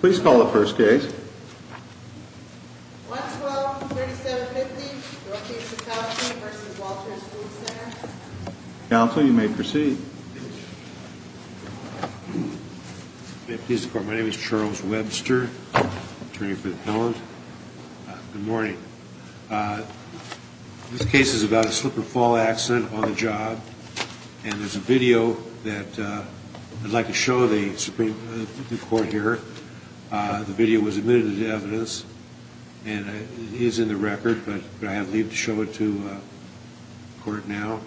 Please call the first case. 112-3750, Brookings, Wisconsin v. Walters Food Center. Counsel, you may proceed. May it please the court, my name is Charles Webster, attorney for the appellant. Good morning. This case is about a slip-and-fall accident on a job, and there's a video that I'd like to show the Supreme Court here. The video was admitted to evidence, and it is in the record, but could I have leave to show it to the court now?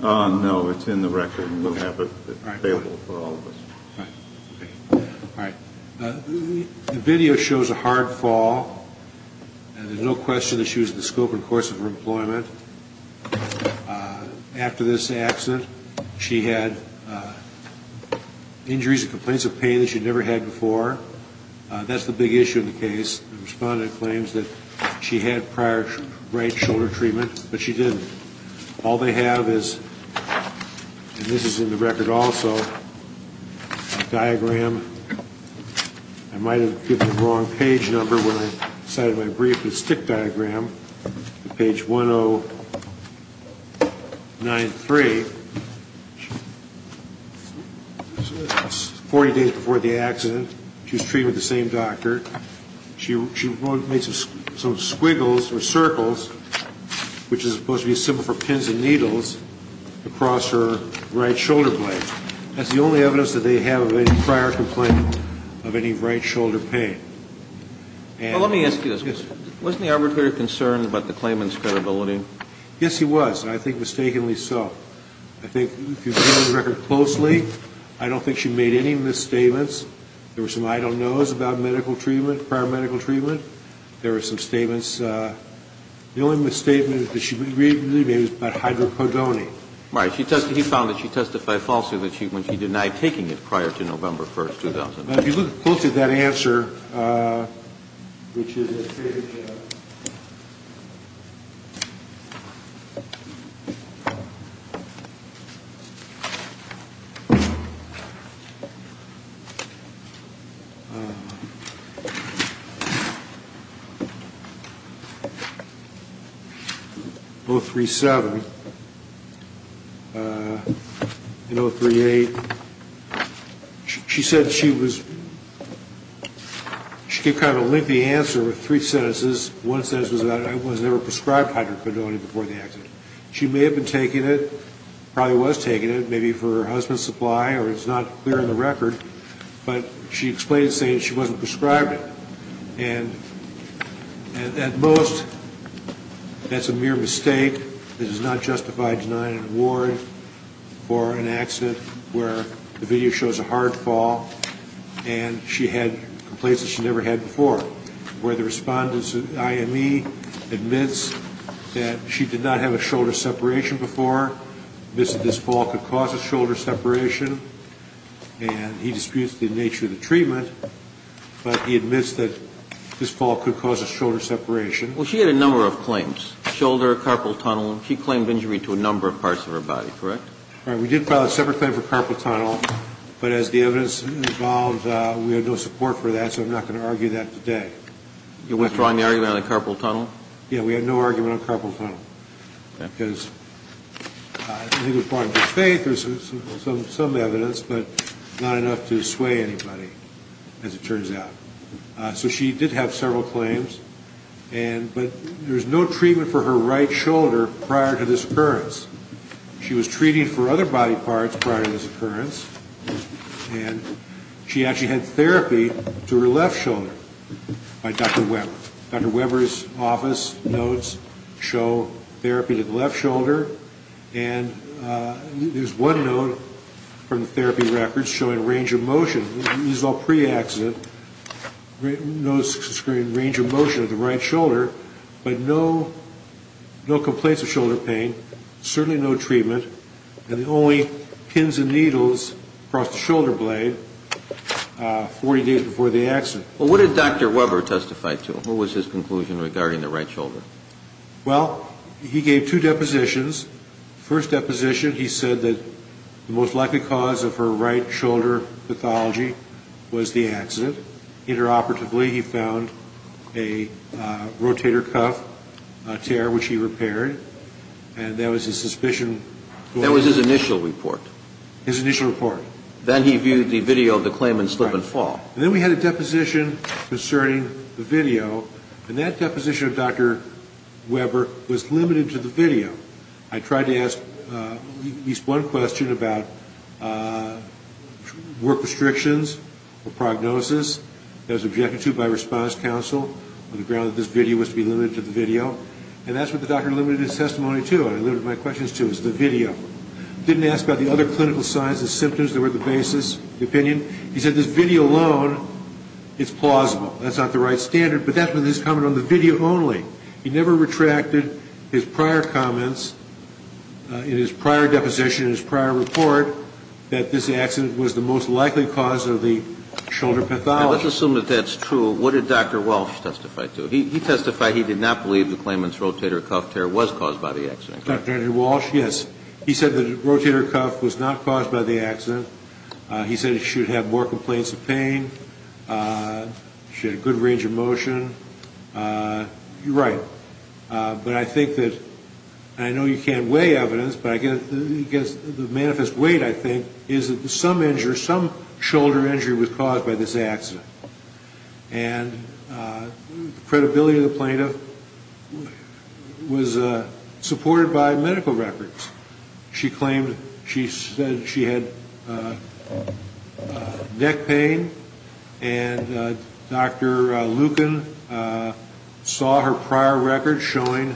No, it's in the record, and we'll have it available for all of us. All right. The video shows a hard fall, and there's no question that she was in the scope and course of her employment. After this accident, she had injuries and complaints of pain that she'd never had before. That's the big issue in the case. The respondent claims that she had prior right shoulder treatment, but she didn't. All they have is, and this is in the record also, a diagram. I might have given the wrong page number when I cited my brief. It's a stick diagram, page 1093. It's 40 days before the accident. She was treated with the same doctor. She made some squiggles or circles, which is supposed to be simple for pins and needles, across her right shoulder blade. That's the only evidence that they have of any prior complaint of any right shoulder pain. Well, let me ask you this. Wasn't the arbitrator concerned about the claimant's credibility? Yes, he was, and I think mistakenly so. I think if you look at the record closely, I don't think she made any misstatements. There were some I don't knows about medical treatment, prior medical treatment. There were some statements. The only misstatement that she made was about hydrocodone. Right. He found that she testified falsely that she denied taking it prior to November 1, 2000. If you look closely at that answer, which is in page 037 and 038, she said she was, she gave kind of a lengthy answer with three sentences. One sentence was about, I was never prescribed hydrocodone before the accident. She may have been taking it, probably was taking it, maybe for her husband's supply, or it's not clear in the record. But she explained it, saying she wasn't prescribed it. And at most, that's a mere mistake. It does not justify denying an award for an accident where the video shows a hard fall and she had complaints that she never had before, where the respondent's IME admits that she did not have a shoulder separation before, admits that this fall could cause a shoulder separation, and he disputes the nature of the treatment, but he admits that this fall could cause a shoulder separation. Well, she had a number of claims, shoulder, carpal tunnel. She claimed injury to a number of parts of her body, correct? All right. We did file a separate claim for carpal tunnel, but as the evidence involved, we had no support for that, so I'm not going to argue that today. You're withdrawing the argument on the carpal tunnel? Yeah. We had no argument on carpal tunnel. Okay. Because I think it was part of her faith. There's some evidence, but not enough to sway anybody, as it turns out. So she did have several claims, but there was no treatment for her right shoulder prior to this occurrence. She was treated for other body parts prior to this occurrence, and she actually had therapy to her left shoulder by Dr. Weber. Dr. Weber's office notes show therapy to the left shoulder, and there's one note from the therapy records showing range of motion. These are all pre-accident. Those are showing range of motion of the right shoulder, but no complaints of shoulder pain, certainly no treatment, and the only pins and needles across the shoulder blade 40 days before the accident. Well, what did Dr. Weber testify to? What was his conclusion regarding the right shoulder? Well, he gave two depositions. First deposition, he said that the most likely cause of her right shoulder pathology was the accident. Interoperatively, he found a rotator cuff tear, which he repaired, and that was his suspicion. That was his initial report. His initial report. Then he viewed the video of the claim in slip and fall. Then we had a deposition concerning the video, and that deposition of Dr. Weber was limited to the video. I tried to ask at least one question about work restrictions or prognosis that was objected to by response counsel on the ground that this video was to be limited to the video, and that's what the doctor limited his testimony to, and I limited my questions to, is the video. Didn't ask about the other clinical signs and symptoms that were at the basis of the opinion. He said this video alone is plausible. That's not the right standard, but that's with his comment on the video only. He never retracted his prior comments in his prior deposition, his prior report, that this accident was the most likely cause of the shoulder pathology. Let's assume that that's true. What did Dr. Walsh testify to? He testified he did not believe the claimant's rotator cuff tear was caused by the accident. Dr. Andrew Walsh, yes. He said the rotator cuff was not caused by the accident. He said she would have more complaints of pain. She had a good range of motion. You're right, but I think that, and I know you can't weigh evidence, but I guess the manifest weight, I think, is that some injury, some shoulder injury was caused by this accident, and the credibility of the plaintiff was supported by medical records. She claimed she said she had neck pain, and Dr. Lucan saw her prior record showing,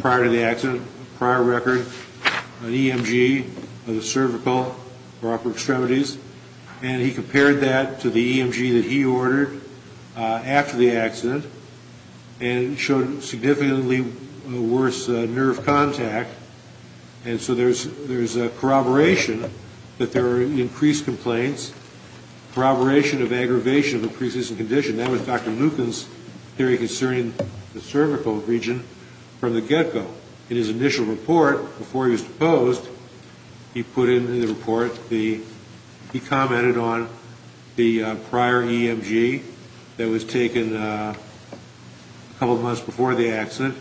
prior to the accident, prior record of EMG of the cervical or upper extremities, and he compared that to the EMG that he ordered after the accident and showed significantly worse nerve contact, and so there's corroboration that there are increased complaints, corroboration of aggravation of increases in condition. That was Dr. Lucan's theory concerning the cervical region from the get-go. In his initial report, before he was deposed, he put in the report, he commented on the prior EMG that was taken a couple of months before the accident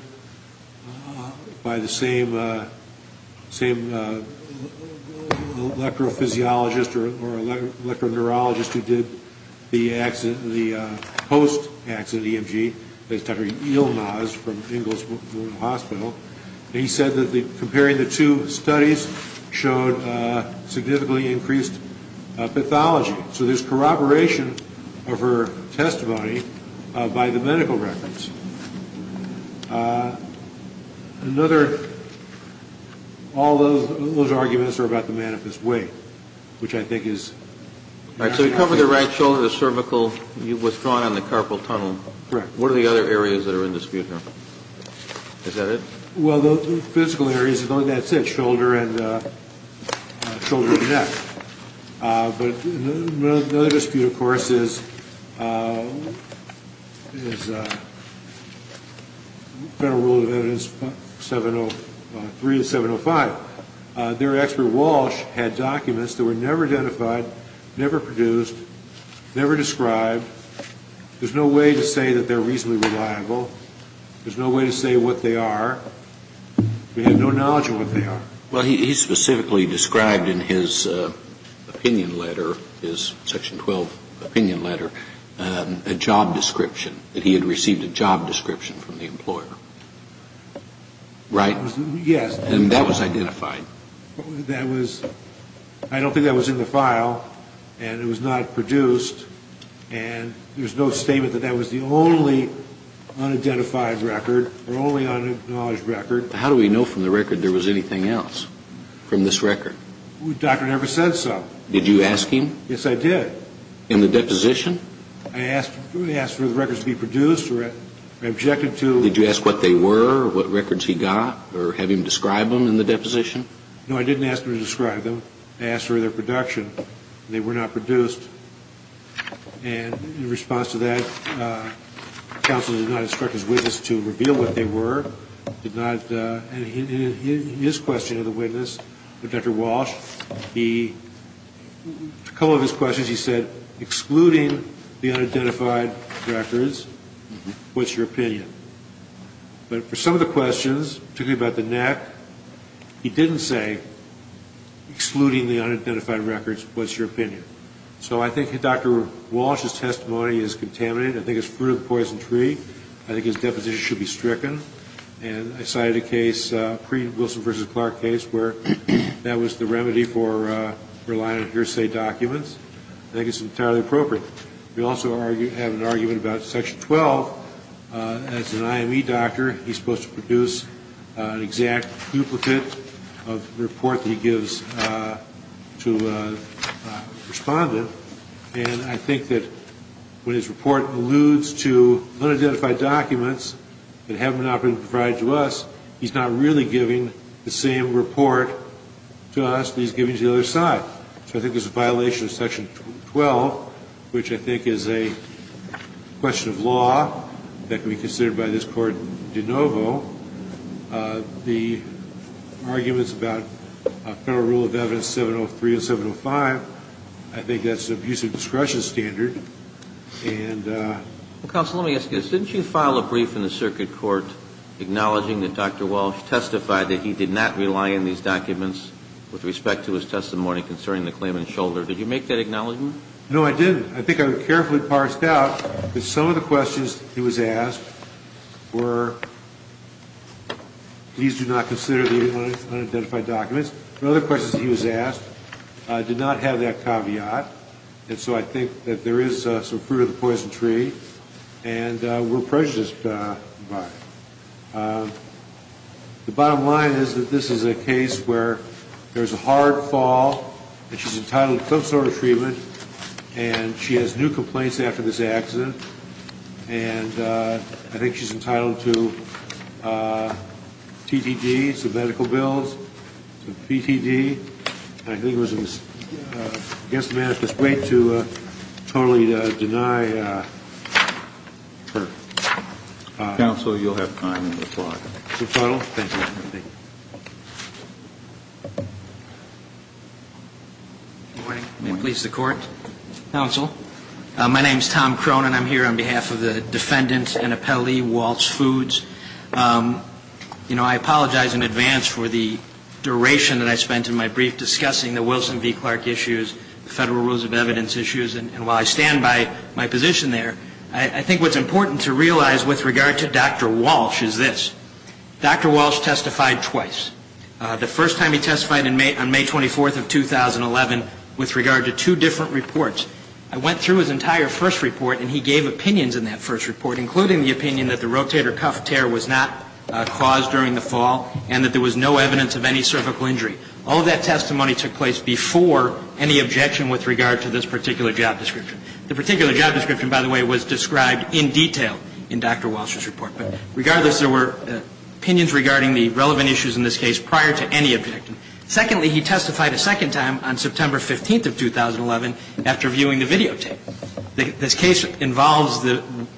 by the same electrophysiologist or electroneurologist who did the post-accident EMG, Dr. Ilmaz from Ingalls Memorial Hospital, and he said that comparing the two studies showed significantly increased pathology, so there's corroboration of her testimony by the medical records. Another, all of those arguments are about the manifest way, which I think is. All right, so you covered the right shoulder, the cervical, you've withdrawn on the carpal tunnel. Correct. What are the other areas that are in dispute now? Is that it? Well, the physical areas, that's it, shoulder and neck. But another dispute, of course, is Federal Rule of Evidence 703 and 705. Their expert Walsh had documents that were never identified, never produced, never described. There's no way to say that they're reasonably reliable. There's no way to say what they are. We have no knowledge of what they are. Well, he specifically described in his opinion letter, his Section 12 opinion letter, a job description, that he had received a job description from the employer. Right? Yes. And that was identified. That was, I don't think that was in the file, and it was not produced, and there's no statement that that was the only unidentified record or only unacknowledged record. How do we know from the record there was anything else from this record? The doctor never said so. Did you ask him? Yes, I did. In the deposition? I asked for the records to be produced or objected to. Did you ask what they were, what records he got, or have him describe them in the deposition? No, I didn't ask him to describe them. I asked for their production, and they were not produced. And in response to that, counsel did not instruct his witness to reveal what they were, did not, and in his question to the witness, Dr. Walsh, a couple of his questions, he said, excluding the unidentified records, what's your opinion? But for some of the questions, particularly about the neck, he didn't say excluding the unidentified records, what's your opinion? So I think Dr. Walsh's testimony is contaminated. I think it's fruit of the poison tree. I think his deposition should be stricken. And I cited a case, a pre-Wilson v. Clark case, where that was the remedy for relying on hearsay documents. I think it's entirely appropriate. We also have an argument about Section 12. As an IME doctor, he's supposed to produce an exact duplicate of the report that he gives to a respondent. And I think that when his report alludes to unidentified documents that have not been provided to us, he's not really giving the same report to us that he's giving to the other side. So I think there's a violation of Section 12, which I think is a question of law that can be considered by this Court de novo. The arguments about Federal Rule of Evidence 703 and 705, I think that's an abuse of discretion standard. And ‑‑ Counsel, let me ask you this. Didn't you file a brief in the circuit court acknowledging that Dr. Walsh testified that he did not rely on these documents with respect to his testimony concerning the claimant's shoulder? Did you make that acknowledgment? No, I didn't. I think I carefully parsed out that some of the questions he was asked were, please do not consider the unidentified documents. The other questions he was asked did not have that caveat, and so I think that there is some fruit of the poison tree and we're prejudiced by it. The bottom line is that this is a case where there's a hard fall, and she's entitled to some sort of treatment, and she has new complaints after this accident, and I think she's entitled to TTD, some medical bills, PTD, and I think it was against the manifest way to totally deny her. Counsel, you'll have time in the floor. Thank you. Good morning. May it please the Court. Counsel. My name is Tom Cronin. I'm here on behalf of the defendant and appellee, Walsh Foods. You know, I apologize in advance for the duration that I spent in my brief discussing the Wilson v. Clark issues, the federal rules of evidence issues, and while I stand by my position there, I think what's important to realize with regard to Dr. Walsh is this. Dr. Walsh testified twice. The first time he testified on May 24th of 2011 with regard to two different reports. I went through his entire first report, and he gave opinions in that first report, including the opinion that the rotator cuff tear was not caused during the fall and that there was no evidence of any cervical injury. All of that testimony took place before any objection with regard to this particular job description. The particular job description, by the way, was described in detail in Dr. Walsh's report. But regardless, there were opinions regarding the relevant issues in this case prior to any objection. Secondly, he testified a second time on September 15th of 2011 after viewing the videotape. This case involves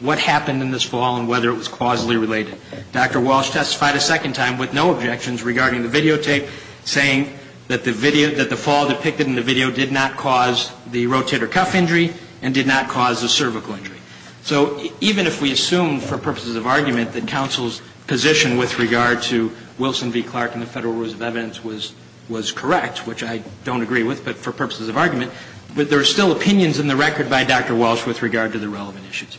what happened in this fall and whether it was causally related. Dr. Walsh testified a second time with no objections regarding the videotape, saying that the fall depicted in the video did not cause the rotator cuff injury and did not cause the cervical injury. So even if we assume for purposes of argument that counsel's position with regard to Wilson v. Clark and the Federal Rules of Evidence was correct, which I don't agree with, but for purposes of argument, there are still opinions in the record by Dr. Walsh with regard to the relevant issues.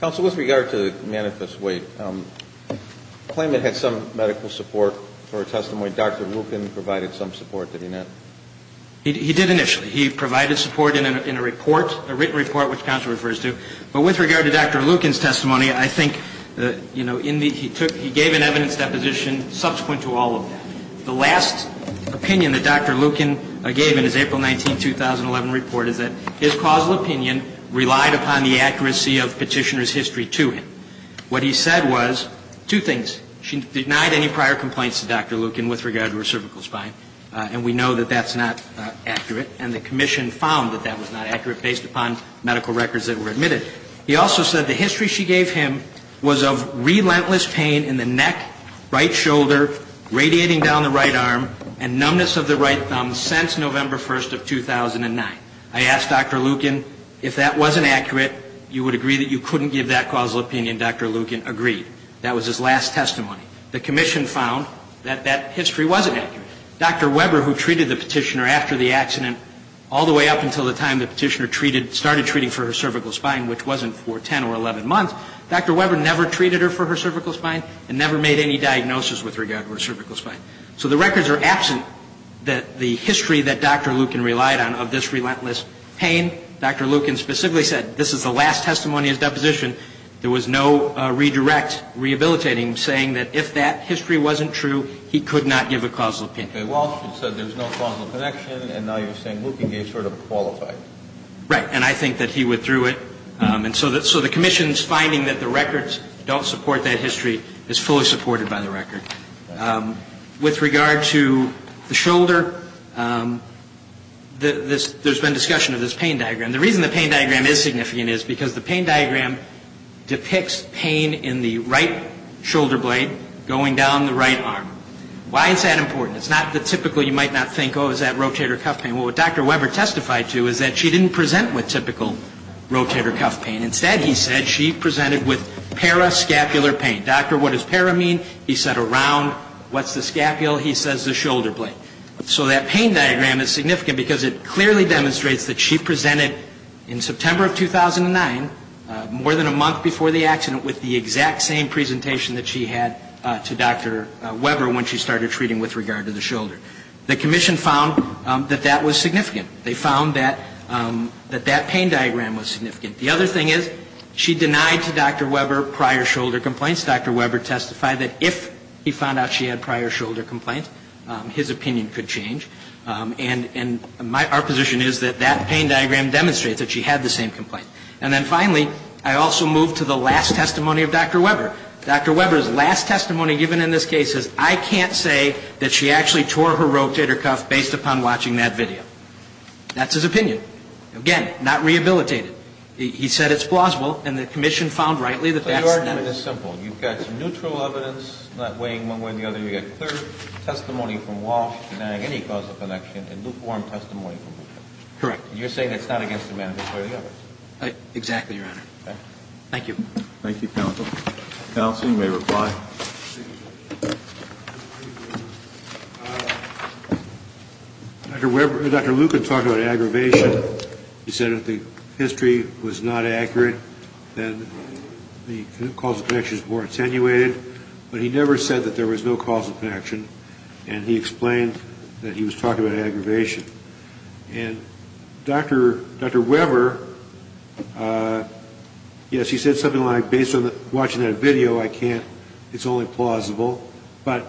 Counsel, with regard to the manifest weight, the claimant had some medical support for a testimony. Dr. Lucan provided some support, did he not? He did initially. He provided support in a written report, which counsel refers to. But with regard to Dr. Lucan's testimony, I think he gave an evidence deposition subsequent to all of that. The last opinion that Dr. Lucan gave in his April 19, 2011 report is that his causal opinion relied upon the accuracy of petitioner's history to him. What he said was two things. She denied any prior complaints to Dr. Lucan with regard to her cervical spine. And we know that that's not accurate. And the commission found that that was not accurate based upon medical records that were admitted. He also said the history she gave him was of relentless pain in the neck, right shoulder, radiating down the right arm, and numbness of the right thumb since November 1 of 2009. I asked Dr. Lucan, if that wasn't accurate, you would agree that you couldn't give that causal opinion? Dr. Lucan agreed. That was his last testimony. The commission found that that history wasn't accurate. Dr. Weber, who treated the petitioner after the accident all the way up until the time the petitioner started treating for her cervical spine, which wasn't for 10 or 11 months, Dr. Weber never treated her for her cervical spine and never made any diagnosis with regard to her cervical spine. So the records are absent that the history that Dr. Lucan relied on of this relentless pain. Dr. Lucan specifically said this is the last testimony of his deposition. There was no redirect rehabilitating him, saying that if that history wasn't true, he could not give a causal opinion. Okay. Well, she said there's no causal connection, and now you're saying Lucan gave sort of a qualified. Right. And I think that he withdrew it. And so the commission's finding that the records don't support that history is fully supported by the record. With regard to the shoulder, there's been discussion of this pain diagram. The reason the pain diagram is significant is because the pain diagram depicts pain in the right shoulder blade going down the right arm. Why is that important? It's not the typical, you might not think, oh, is that rotator cuff pain. Well, what Dr. Weber testified to is that she didn't present with typical rotator cuff pain. Instead, he said, she presented with parascapular pain. Doctor, what does para mean? He said around. What's the scapula? He says the shoulder blade. So that pain diagram is significant because it clearly demonstrates that she presented in September of 2009, more than a month before the accident, with the exact same presentation that she had to Dr. Weber when she started treating with regard to the shoulder. The commission found that that was significant. They found that that pain diagram was significant. The other thing is, she denied to Dr. Weber prior shoulder complaints. Dr. Weber testified that if he found out she had prior shoulder complaints, his opinion could change. And our position is that that pain diagram demonstrates that she had the same complaint. And then finally, I also move to the last testimony of Dr. Weber. Dr. Weber's last testimony given in this case is, I can't say that she actually tore her rotator cuff based upon watching that video. That's his opinion. Again, not rehabilitated. He said it's plausible, and the commission found rightly that that's the case. So your argument is simple. You've got neutral evidence not weighing one way or the other. You've got clear testimony from Walsh denying any causal connection and lukewarm testimony from Weber. Correct. And you're saying it's not against the man who tore the arm? Exactly, Your Honor. Okay. Thank you. Thank you, counsel. Counsel, you may reply. Thank you. Dr. Luke had talked about aggravation. He said if the history was not accurate, then the causal connection is more attenuated. But he never said that there was no causal connection, and he explained that he was talking about aggravation. And Dr. Weber, yes, he said something like, based on watching that video, I can't, it's only plausible. But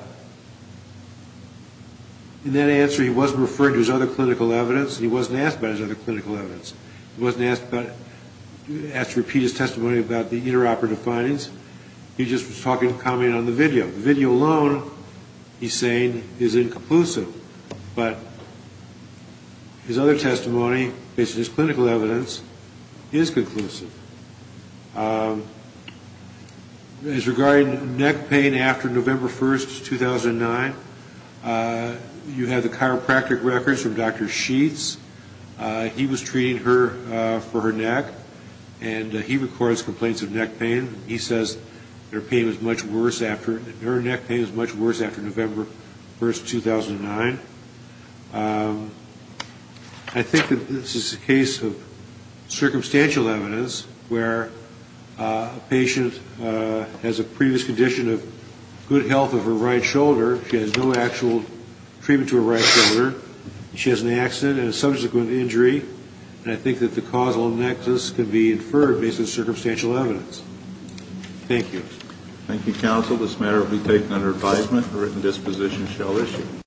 in that answer, he wasn't referring to his other clinical evidence. He wasn't asked about his other clinical evidence. He wasn't asked to repeat his testimony about the interoperative findings. He just was commenting on the video. The video alone, he's saying, is inconclusive. But his other testimony, based on his clinical evidence, is conclusive. It's regarding neck pain after November 1, 2009. You have the chiropractic records from Dr. Sheets. He was treating her for her neck, and he records complaints of neck pain. He says her neck pain is much worse after November 1, 2009. I think that this is a case of circumstantial evidence, where a patient has a previous condition of good health of her right shoulder. She has no actual treatment to her right shoulder. She has an accident and a subsequent injury. And I think that the causal nexus can be inferred based on circumstantial evidence. Thank you. Thank you, counsel. This matter will be taken under advisement. A written disposition shall issue.